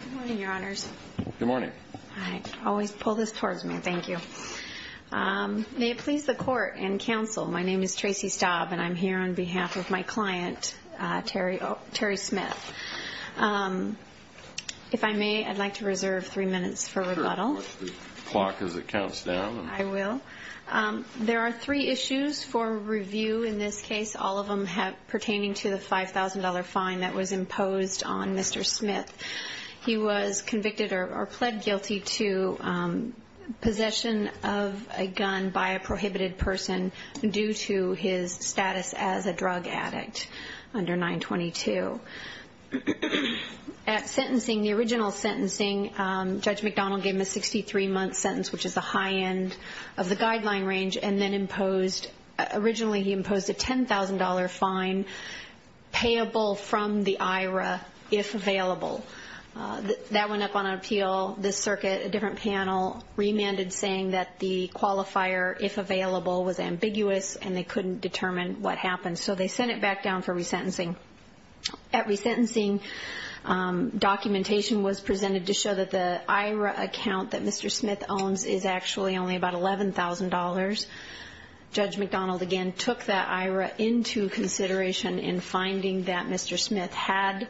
Good morning, your honors. Good morning. I always pull this towards me, thank you. May it please the court and counsel, my name is Tracy Staub and I'm here on behalf of my client, Terry Smith. If I may, I'd like to reserve three minutes for rebuttal. Sure, watch the clock as it counts down. I will. There are three issues for review in this case, all of them pertaining to the $5,000 fine that was imposed on Mr. Smith. He was convicted or pled guilty to possession of a gun by a prohibited person due to his status as a drug addict under 922. At sentencing, the original sentencing, Judge McDonald gave him a 63-month sentence, which is the high end of the guideline range, and then imposed, originally he imposed a $10,000 fine payable from the IRA if available. That went up on appeal. This circuit, a different panel, remanded saying that the qualifier, if available, was ambiguous and they couldn't determine what happened, so they sent it back down for resentencing. At resentencing, documentation was presented to show that the IRA account that Mr. Smith owns is actually only about $11,000. Judge McDonald again took that IRA into consideration in finding that Mr. Smith had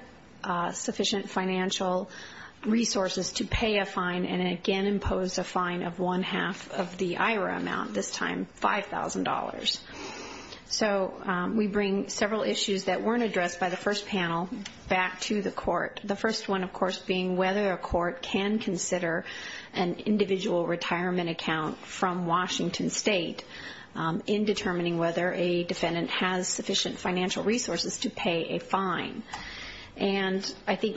sufficient financial resources to pay a fine and again imposed a fine of one-half of the IRA amount, this time $5,000. So we bring several issues that weren't addressed by the first panel back to the court. The first one, of course, being whether a court can consider an individual retirement account from Washington State in determining whether a defendant has sufficient financial resources to pay a fine. In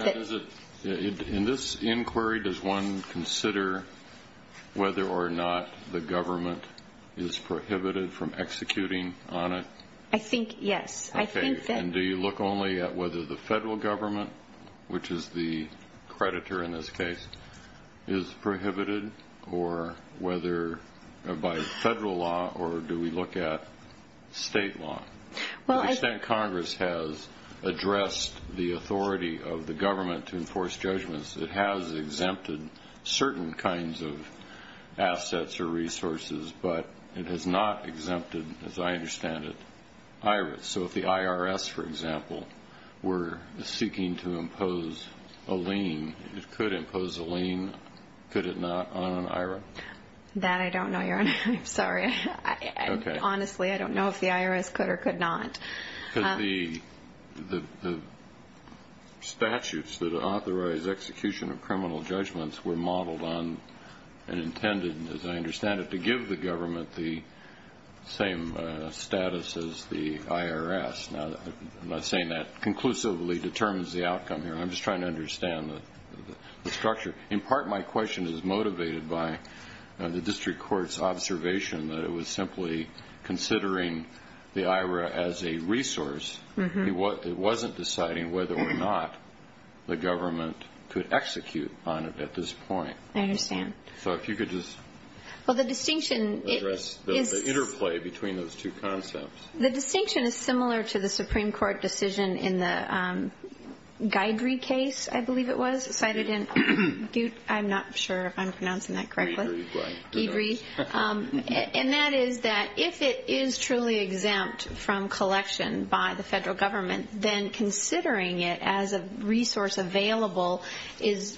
this inquiry, does one consider whether or not the government is prohibited from executing on it? I think yes. Do you look only at whether the federal government, which is the creditor in this case, is prohibited by federal law or do we look at state law? To the extent Congress has addressed the authority of the government to enforce judgments, it has exempted certain kinds of assets or resources, but it has not exempted, as I understand it, IRS. So if the IRS, for example, were seeking to impose a lien, it could impose a lien, could it not, on an IRA? That I don't know, Your Honor. I'm sorry. Honestly, I don't know if the IRS could or could not. Because the statutes that authorize execution of criminal judgments were modeled on and intended, as I understand it, to give the government the same status as the IRS. Now, I'm not saying that conclusively determines the outcome here. I'm just trying to understand the structure. In part, my question is motivated by the district court's observation that it was simply considering the IRA as a resource. It wasn't deciding whether or not the government could execute on it at this point. I understand. So if you could just address the interplay between those two concepts. The distinction is similar to the Supreme Court decision in the Guidry case, I believe it was, cited in, I'm not sure if I'm pronouncing that correctly. Guidry. Guidry. And that is that if it is truly exempt from collection by the federal government, then considering it as a resource available is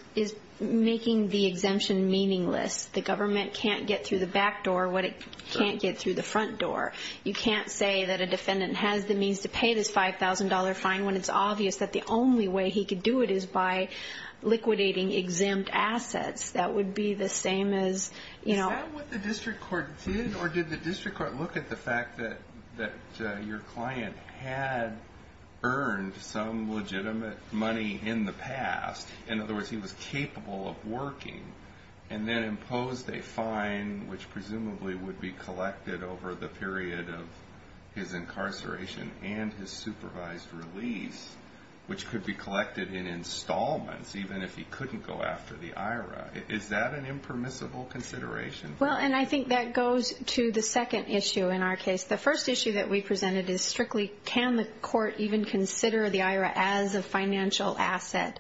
making the exemption meaningless. The government can't get through the back door what it can't get through the front door. You can't say that a defendant has the means to pay this $5,000 fine when it's obvious that the only way he could do it is by liquidating exempt assets. That would be the same as, you know. Is that what the district court did, or did the district court look at the fact that your client had earned some legitimate money in the past, in other words, he was capable of working, and then imposed a fine which presumably would be collected over the period of his incarceration and his supervised release, which could be collected in installments, even if he couldn't go after the IRA. Is that an impermissible consideration? Well, and I think that goes to the second issue in our case. The first issue that we presented is strictly can the court even consider the IRA as a financial asset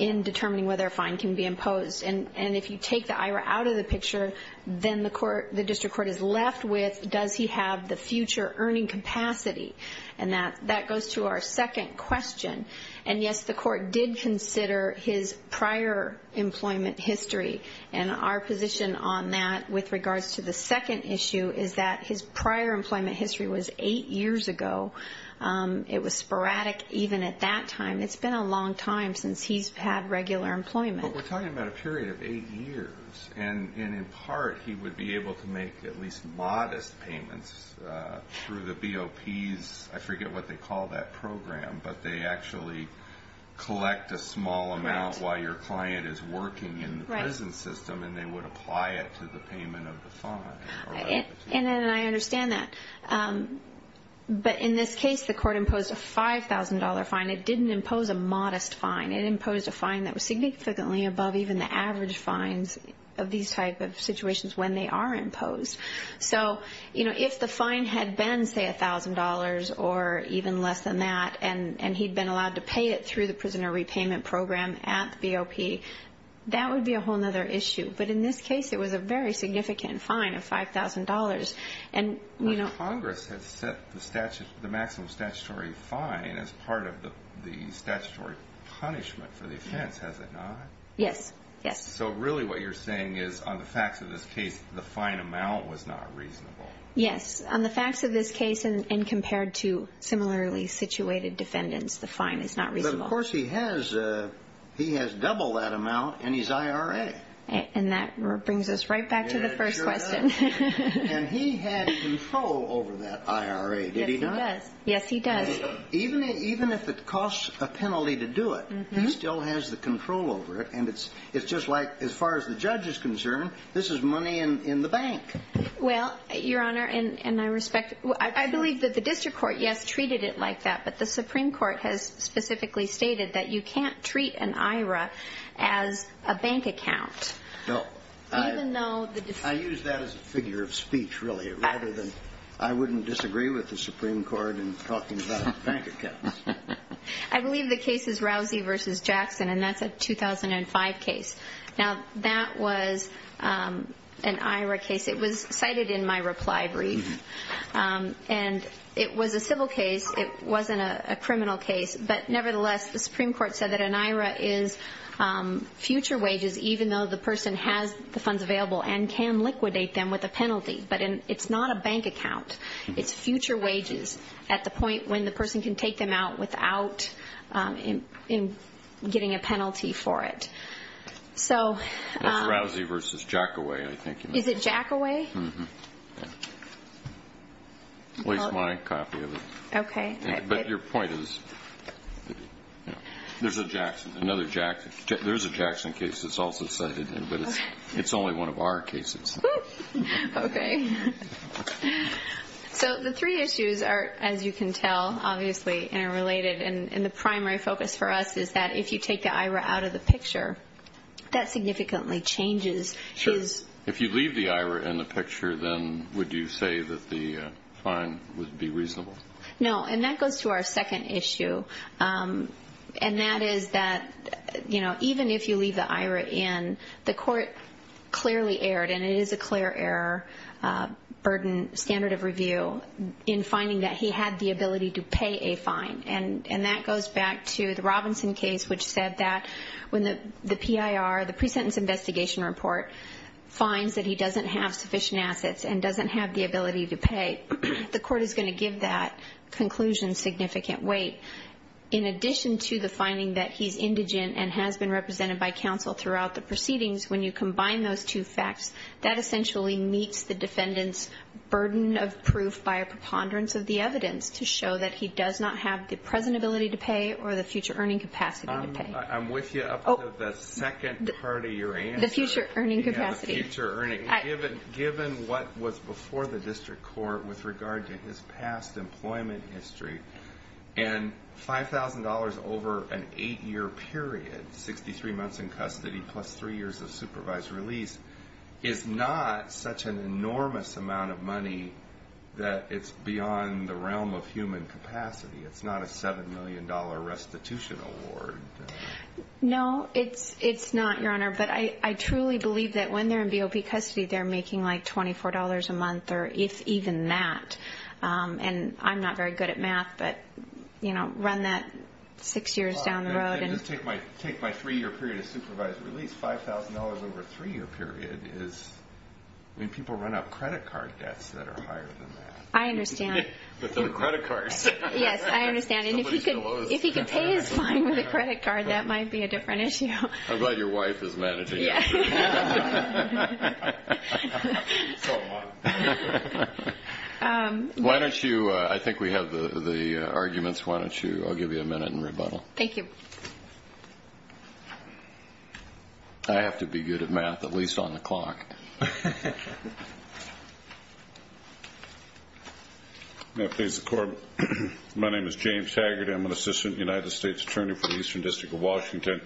in determining whether a fine can be imposed? And if you take the IRA out of the picture, then the district court is left with, does he have the future earning capacity? And that goes to our second question. And, yes, the court did consider his prior employment history. And our position on that with regards to the second issue is that his prior employment history was eight years ago. It was sporadic even at that time. It's been a long time since he's had regular employment. But we're talking about a period of eight years. And in part, he would be able to make at least modest payments through the BOPs. I forget what they call that program, but they actually collect a small amount while your client is working in the prison system, and they would apply it to the payment of the fine. And I understand that. But in this case, the court imposed a $5,000 fine. And it didn't impose a modest fine. It imposed a fine that was significantly above even the average fines of these type of situations when they are imposed. So, you know, if the fine had been, say, $1,000 or even less than that, and he'd been allowed to pay it through the prisoner repayment program at the BOP, that would be a whole other issue. But in this case, it was a very significant fine of $5,000. Congress has set the maximum statutory fine as part of the statutory punishment for the offense, has it not? Yes, yes. So really what you're saying is, on the facts of this case, the fine amount was not reasonable. Yes, on the facts of this case and compared to similarly situated defendants, the fine is not reasonable. But, of course, he has doubled that amount in his IRA. And that brings us right back to the first question. And he had control over that IRA, did he not? Yes, he does. Even if it costs a penalty to do it, he still has the control over it. And it's just like, as far as the judge is concerned, this is money in the bank. Well, Your Honor, and I respect – I believe that the district court, yes, treated it like that. But the Supreme Court has specifically stated that you can't treat an IRA as a bank account. I use that as a figure of speech, really, rather than I wouldn't disagree with the Supreme Court in talking about bank accounts. I believe the case is Rousey v. Jackson, and that's a 2005 case. Now, that was an IRA case. It was cited in my reply brief. And it was a civil case. It wasn't a criminal case. But nevertheless, the Supreme Court said that an IRA is future wages even though the person has the funds available and can liquidate them with a penalty. But it's not a bank account. It's future wages at the point when the person can take them out without getting a penalty for it. So – That's Rousey v. Jackaway, I think. Is it Jackaway? Mm-hmm. At least my copy of it. Okay. But your point is there's a Jackson case that's also cited, but it's only one of our cases. Okay. So the three issues are, as you can tell, obviously, interrelated. And the primary focus for us is that if you take the IRA out of the picture, that significantly changes his – Sure. If you leave the IRA in the picture, then would you say that the fine would be reasonable? No. And that goes to our second issue, and that is that even if you leave the IRA in, the court clearly erred, and it is a clear error burden standard of review in finding that he had the ability to pay a fine. And that goes back to the Robinson case, which said that when the PIR, the pre-sentence investigation report, finds that he doesn't have sufficient assets and doesn't have the ability to pay, the court is going to give that conclusion significant weight. In addition to the finding that he's indigent and has been represented by counsel throughout the proceedings, when you combine those two facts, that essentially meets the defendant's burden of proof by a preponderance of the evidence to show that he does not have the present ability to pay or the future earning capacity to pay. I'm with you up to the second part of your answer. The future earning capacity. Yeah, the future earning. Given what was before the district court with regard to his past employment history, and $5,000 over an eight-year period, 63 months in custody plus three years of supervised release, is not such an enormous amount of money that it's beyond the realm of human capacity. It's not a $7 million restitution award. No, it's not, Your Honor. But I truly believe that when they're in BOP custody, they're making like $24 a month or even that. And I'm not very good at math, but, you know, run that six years down the road. Take my three-year period of supervised release, $5,000 over a three-year period is, I mean, people run up credit card debts that are higher than that. I understand. But they're credit cards. Yes, I understand. And if he could pay his fine with a credit card, that might be a different issue. I'm glad your wife is managing it. Yes. So am I. Why don't you – I think we have the arguments. Why don't you – I'll give you a minute and rebuttal. Thank you. I have to be good at math, at least on the clock. May it please the Court. My name is James Haggard. I'm an assistant United States attorney for the Eastern District of Washington.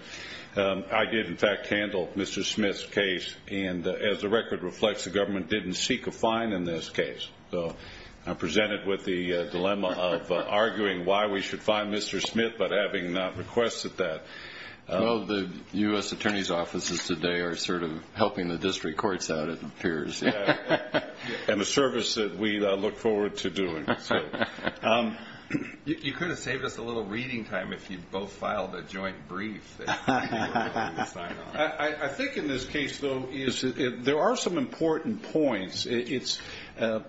I did, in fact, handle Mr. Smith's case. And as the record reflects, the government didn't seek a fine in this case. So I'm presented with the dilemma of arguing why we should fine Mr. Smith but having not requested that. Well, the U.S. Attorney's offices today are sort of helping the district courts out, it appears. And a service that we look forward to doing. You could have saved us a little reading time if you both filed a joint brief. I think in this case, though, there are some important points. And I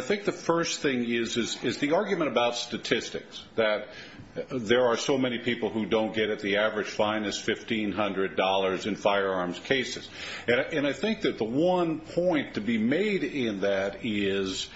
think the first thing is the argument about statistics, that there are so many people who don't get it. The average fine is $1,500 in firearms cases. And I think that the one point to be made in that is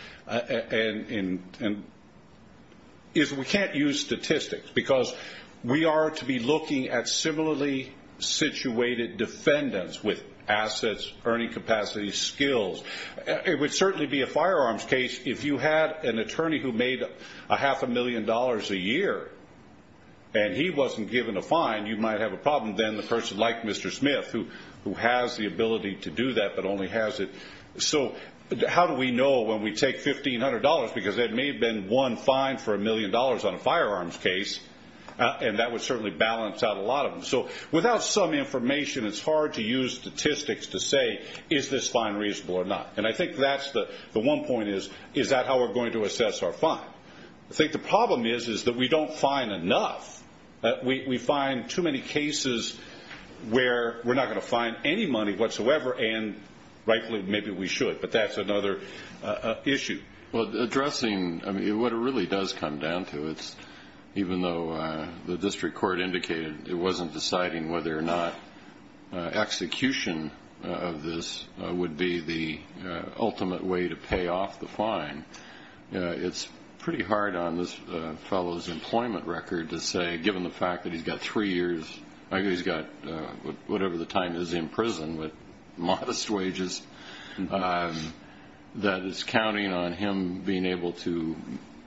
we can't use statistics because we are to be looking at similarly situated defendants with assets, earning capacity, skills. It would certainly be a firearms case if you had an attorney who made a half a million dollars a year and he wasn't given a fine, you might have a problem. Then the person, like Mr. Smith, who has the ability to do that but only has it. So how do we know when we take $1,500? Because there may have been one fine for a million dollars on a firearms case, and that would certainly balance out a lot of them. So without some information, it's hard to use statistics to say, is this fine reasonable or not? And I think that's the one point is, is that how we're going to assess our fine? I think the problem is that we don't fine enough. We fine too many cases where we're not going to fine any money whatsoever, and rightfully, maybe we should, but that's another issue. Well, addressing what it really does come down to, even though the district court indicated it wasn't deciding whether or not execution of this would be the ultimate way to pay off the fine, it's pretty hard on this fellow's employment record to say, given the fact that he's got three years, whatever the time is in prison, but modest wages, that is counting on him being able to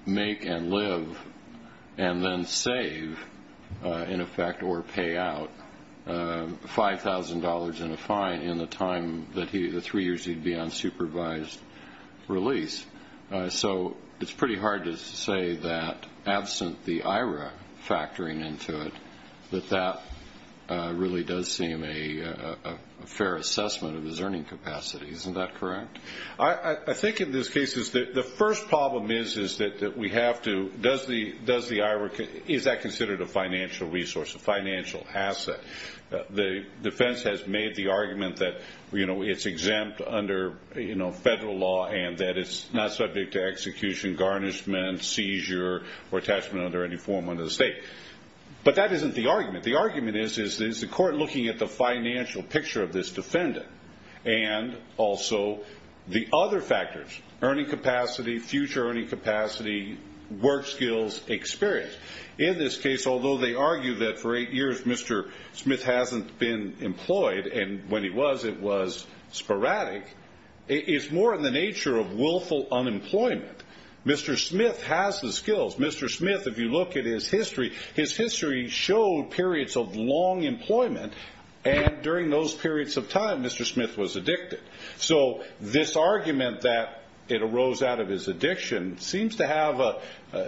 make and live and then save, in effect, or pay out $5,000 in a fine in the three years he'd be on supervised release. So it's pretty hard to say that, absent the IRA factoring into it, that that really does seem a fair assessment of his earning capacity. Isn't that correct? I think in this case, the first problem is that we have to, does the IRA, is that considered a financial resource, a financial asset? The defense has made the argument that it's exempt under federal law and that it's not subject to execution, garnishment, seizure, or attachment under any form under the state. But that isn't the argument. The argument is the court looking at the financial picture of this defendant and also the other factors, earning capacity, future earning capacity, work skills, experience. In this case, although they argue that for eight years Mr. Smith hasn't been employed, and when he was, it was sporadic, it's more in the nature of willful unemployment. Mr. Smith has the skills. Mr. Smith, if you look at his history, his history showed periods of long employment, and during those periods of time, Mr. Smith was addicted. So this argument that it arose out of his addiction seems to have a,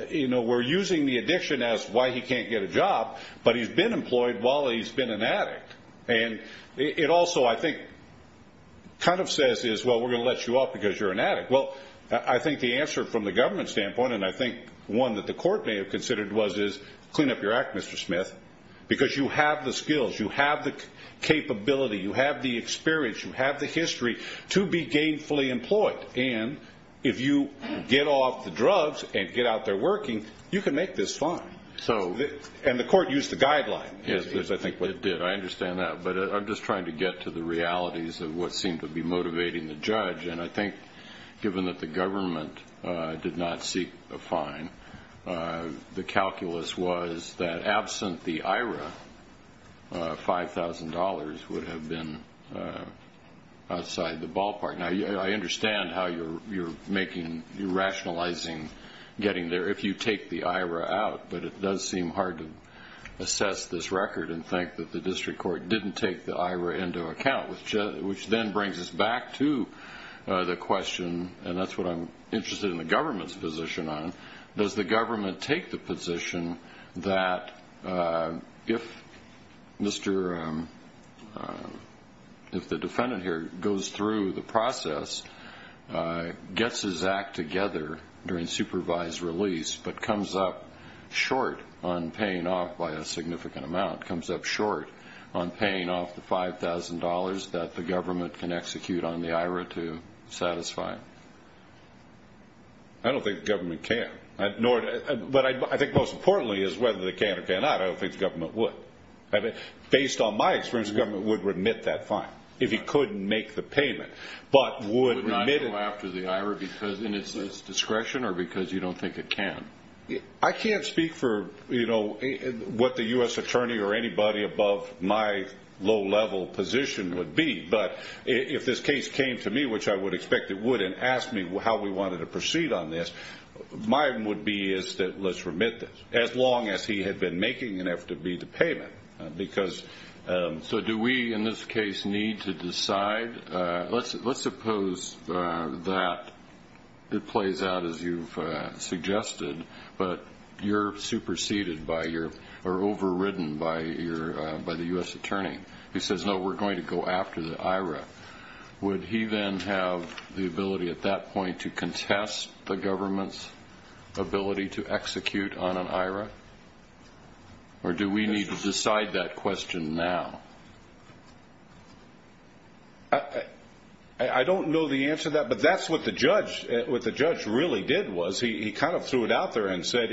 you know, we're using the addiction as why he can't get a job, but he's been employed while he's been an addict. And it also, I think, kind of says is, well, we're going to let you off because you're an addict. Well, I think the answer from the government standpoint, and I think one that the court may have considered was is clean up your act, Mr. Smith, because you have the skills, you have the capability, you have the experience, you have the history to be gainfully employed. And if you get off the drugs and get out there working, you can make this fine. And the court used the guideline. Yes, I think it did. I understand that. But I'm just trying to get to the realities of what seemed to be motivating the judge. And I think given that the government did not seek a fine, the calculus was that absent the IRA, $5,000 would have been outside the ballpark. Now, I understand how you're making, you're rationalizing getting there if you take the IRA out, but it does seem hard to assess this record and think that the district court didn't take the IRA into account, which then brings us back to the question, and that's what I'm interested in the government's position on, does the government take the position that if the defendant here goes through the process, gets his act together during supervised release, but comes up short on paying off by a significant amount, comes up short on paying off the $5,000 that the government can execute on the IRA to satisfy? I don't think the government can. But I think most importantly is whether they can or cannot, I don't think the government would. Based on my experience, the government would remit that fine if he couldn't make the payment, but would remit it. Would not go after the IRA in its discretion or because you don't think it can? I can't speak for what the U.S. attorney or anybody above my low-level position would be, but if this case came to me, which I would expect it would, and asked me how we wanted to proceed on this, mine would be is that let's remit this, as long as he had been making enough to be the payment. So do we in this case need to decide? Let's suppose that it plays out as you've suggested, but you're superseded or overridden by the U.S. attorney. He says, no, we're going to go after the IRA. Would he then have the ability at that point to contest the government's ability to execute on an IRA? Or do we need to decide that question now? I don't know the answer to that, but that's what the judge really did was he kind of threw it out there and said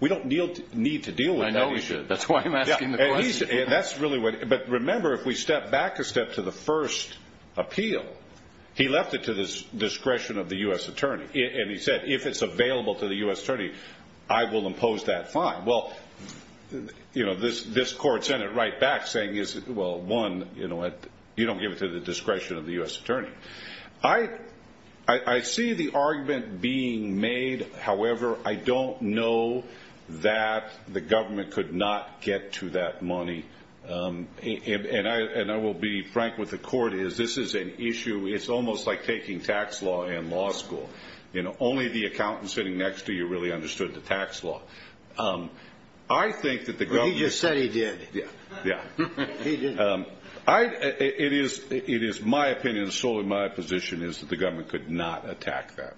we don't need to deal with that issue. I know we should. That's why I'm asking the question. That's really what he said. But remember, if we step back a step to the first appeal, he left it to the discretion of the U.S. attorney, and he said if it's available to the U.S. attorney, I will impose that fine. Well, this court sent it right back saying, well, one, you don't give it to the discretion of the U.S. attorney. I see the argument being made. However, I don't know that the government could not get to that money, and I will be frank with the court is this is an issue. It's almost like taking tax law in law school. Only the accountant sitting next to you really understood the tax law. He just said he did. It is my opinion, solely my position is that the government could not attack that.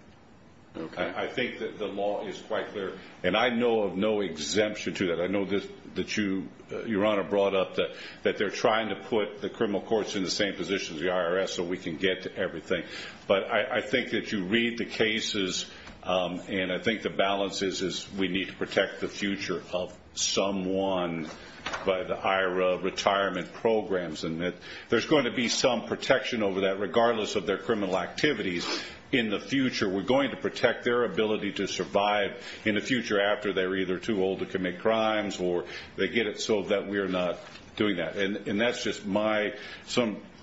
I think that the law is quite clear, and I know of no exemption to that. I know that Your Honor brought up that they're trying to put the criminal courts in the same position as the IRS so we can get to everything, but I think that you read the cases, and I think the balance is we need to protect the future of someone by the IRA retirement programs. There's going to be some protection over that regardless of their criminal activities in the future. We're going to protect their ability to survive in the future after they're either too old to commit crimes or they get it so that we're not doing that. And that's just my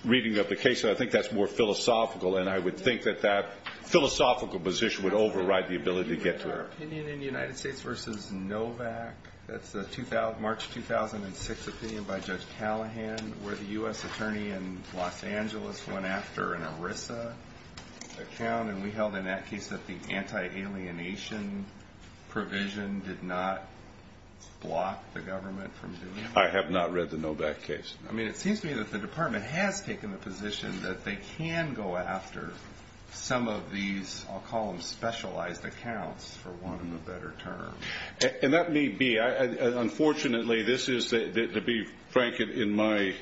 reading of the case, and I think that's more philosophical, and I would think that that philosophical position would override the ability to get to it. Your opinion in United States v. Novak, that's a March 2006 opinion by Judge Callahan where the U.S. attorney in Los Angeles went after an ERISA account, and we held in that case that the anti-alienation provision did not block the government from doing it. I have not read the Novak case. It seems to me that the department has taken the position that they can go after some of these, I'll call them specialized accounts for want of a better term. And that may be. Unfortunately, this is, to be frank, in my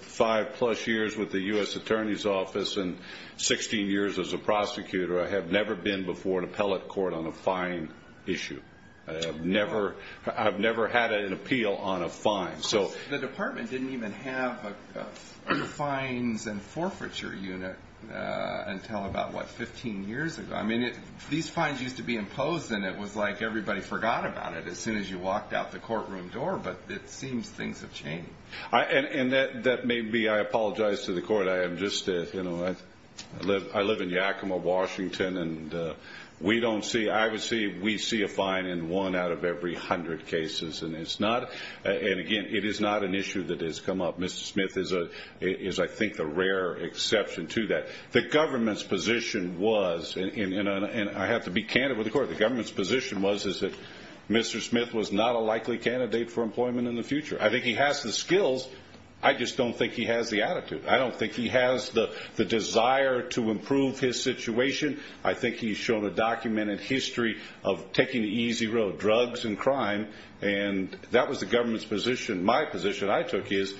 five-plus years with the U.S. Attorney's Office and 16 years as a prosecutor, I have never been before in appellate court on a fine issue. I've never had an appeal on a fine. Of course, the department didn't even have fines and forfeiture unit until about, what, 15 years ago. I mean, these fines used to be imposed, and it was like everybody forgot about it as soon as you walked out the courtroom door, but it seems things have changed. And that may be. I apologize to the court. I live in Yakima, Washington, and I would say we see a fine in one out of every hundred cases. And, again, it is not an issue that has come up. Mr. Smith is, I think, the rare exception to that. The government's position was, and I have to be candid with the court, the government's position was that Mr. Smith was not a likely candidate for employment in the future. I think he has the skills. I just don't think he has the attitude. I don't think he has the desire to improve his situation. I think he's shown a documented history of taking the easy road, drugs and crime, and that was the government's position. My position I took is,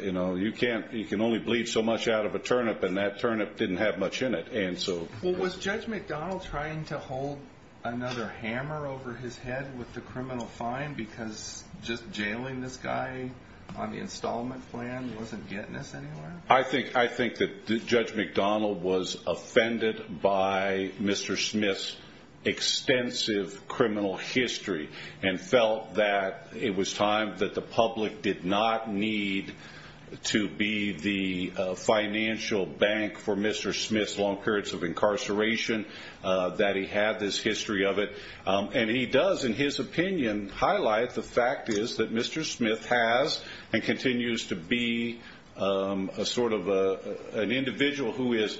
you know, you can only bleed so much out of a turnip, and that turnip didn't have much in it, and so. Well, was Judge McDonald trying to hold another hammer over his head with the criminal fine because just jailing this guy on the installment plan wasn't getting us anywhere? I think that Judge McDonald was offended by Mr. Smith's extensive criminal history and felt that it was time that the public did not need to be the financial bank for Mr. Smith's long periods of incarceration, that he had this history of it. And he does, in his opinion, highlight the fact is that Mr. Smith has and continues to be a sort of an individual who is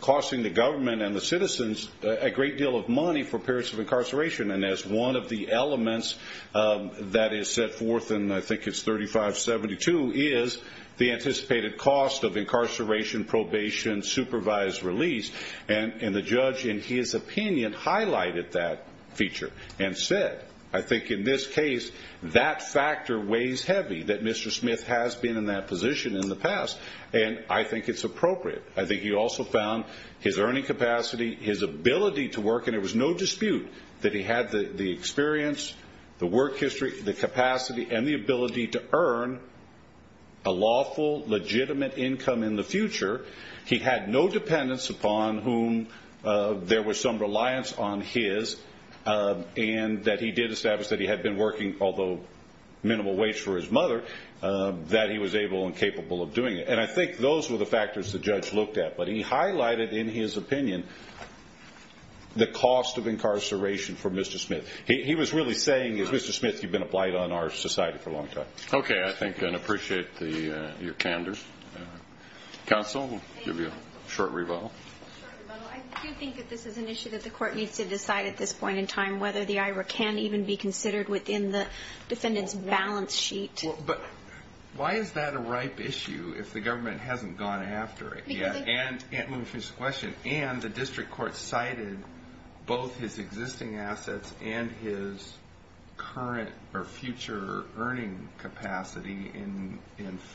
costing the government and the citizens a great deal of money for periods of incarceration, and as one of the elements that is set forth in, I think it's 3572, is the anticipated cost of incarceration, probation, supervised release. And the judge, in his opinion, highlighted that feature and said, I think in this case that factor weighs heavy, that Mr. Smith has been in that position in the past, and I think it's appropriate. I think he also found his earning capacity, his ability to work, and there was no dispute that he had the experience, the work history, the capacity, and the ability to earn a lawful, legitimate income in the future. He had no dependents upon whom there was some reliance on his, and that he did establish that he had been working, although minimal wage for his mother, that he was able and capable of doing it. And I think those were the factors the judge looked at. But he highlighted, in his opinion, the cost of incarceration for Mr. Smith. He was really saying, Mr. Smith, you've been a blight on our society for a long time. Okay, I think and appreciate your candors. Counsel, I'll give you a short rebuttal. I do think that this is an issue that the court needs to decide at this point in time, whether the IRA can even be considered within the defendant's balance sheet. But why is that a ripe issue if the government hasn't gone after it yet? And, moving to the next question, and the district court cited both his existing assets and his current or future earning capacity in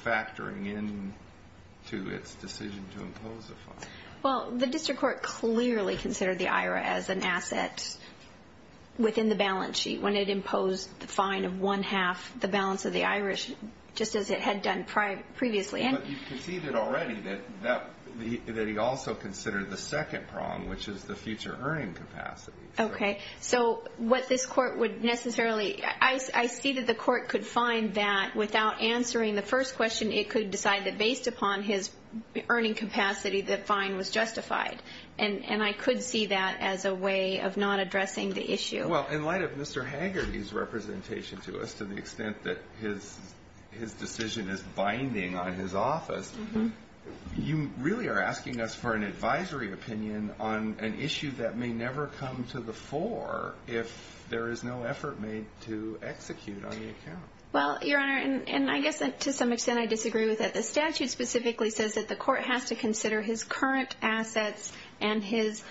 factoring into its decision to impose the fine. Well, the district court clearly considered the IRA as an asset within the balance sheet when it imposed the fine of one-half the balance of the IRA, just as it had done previously. But you can see that already that he also considered the second prong, which is the future earning capacity. Okay, so what this court would necessarily I see that the court could find that without answering the first question, it could decide that based upon his earning capacity, the fine was justified. And I could see that as a way of not addressing the issue. Well, in light of Mr. Hagerty's representation to us, to the extent that his decision is binding on his office, you really are asking us for an advisory opinion on an issue that may never come to the fore if there is no effort made to execute on the account. Well, Your Honor, and I guess to some extent I disagree with that. The statute specifically says that the court has to consider his current assets and his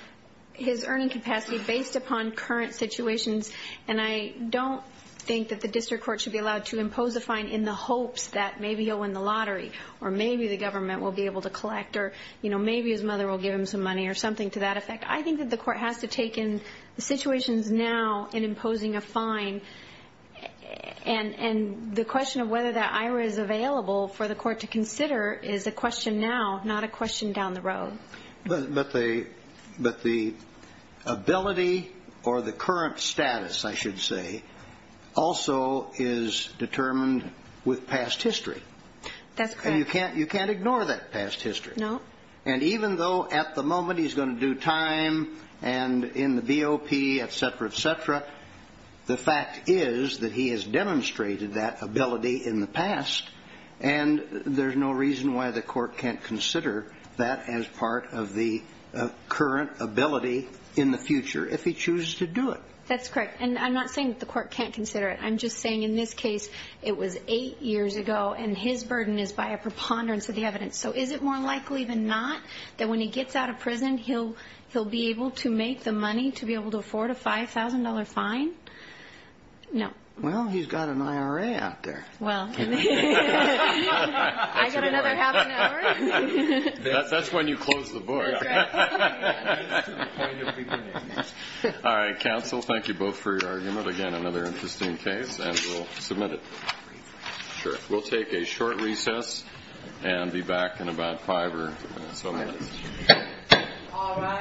earning capacity based upon current situations. And I don't think that the district court should be allowed to impose a fine in the hopes that maybe he'll win the lottery or maybe the government will be able to collect or maybe his mother will give him some money or something to that effect. I think that the court has to take in the situations now in imposing a fine. And the question of whether that IRA is available for the court to consider is a question now, not a question down the road. But the ability or the current status, I should say, also is determined with past history. That's correct. And you can't ignore that past history. No. And even though at the moment he's going to do time and in the BOP, et cetera, et cetera, the fact is that he has demonstrated that ability in the past, and there's no reason why the court can't consider that as part of the current ability in the future if he chooses to do it. That's correct. And I'm not saying that the court can't consider it. I'm just saying in this case it was eight years ago, and his burden is by a preponderance of the evidence. So is it more likely than not that when he gets out of prison he'll be able to make the money to be able to afford a $5,000 fine? No. Well, he's got an IRA out there. Well, I've got another half an hour. That's when you close the book. That's right. All right, counsel, thank you both for your argument. Again, another interesting case, and we'll submit it. Sure. We'll take a short recess and be back in about five or so minutes. All right.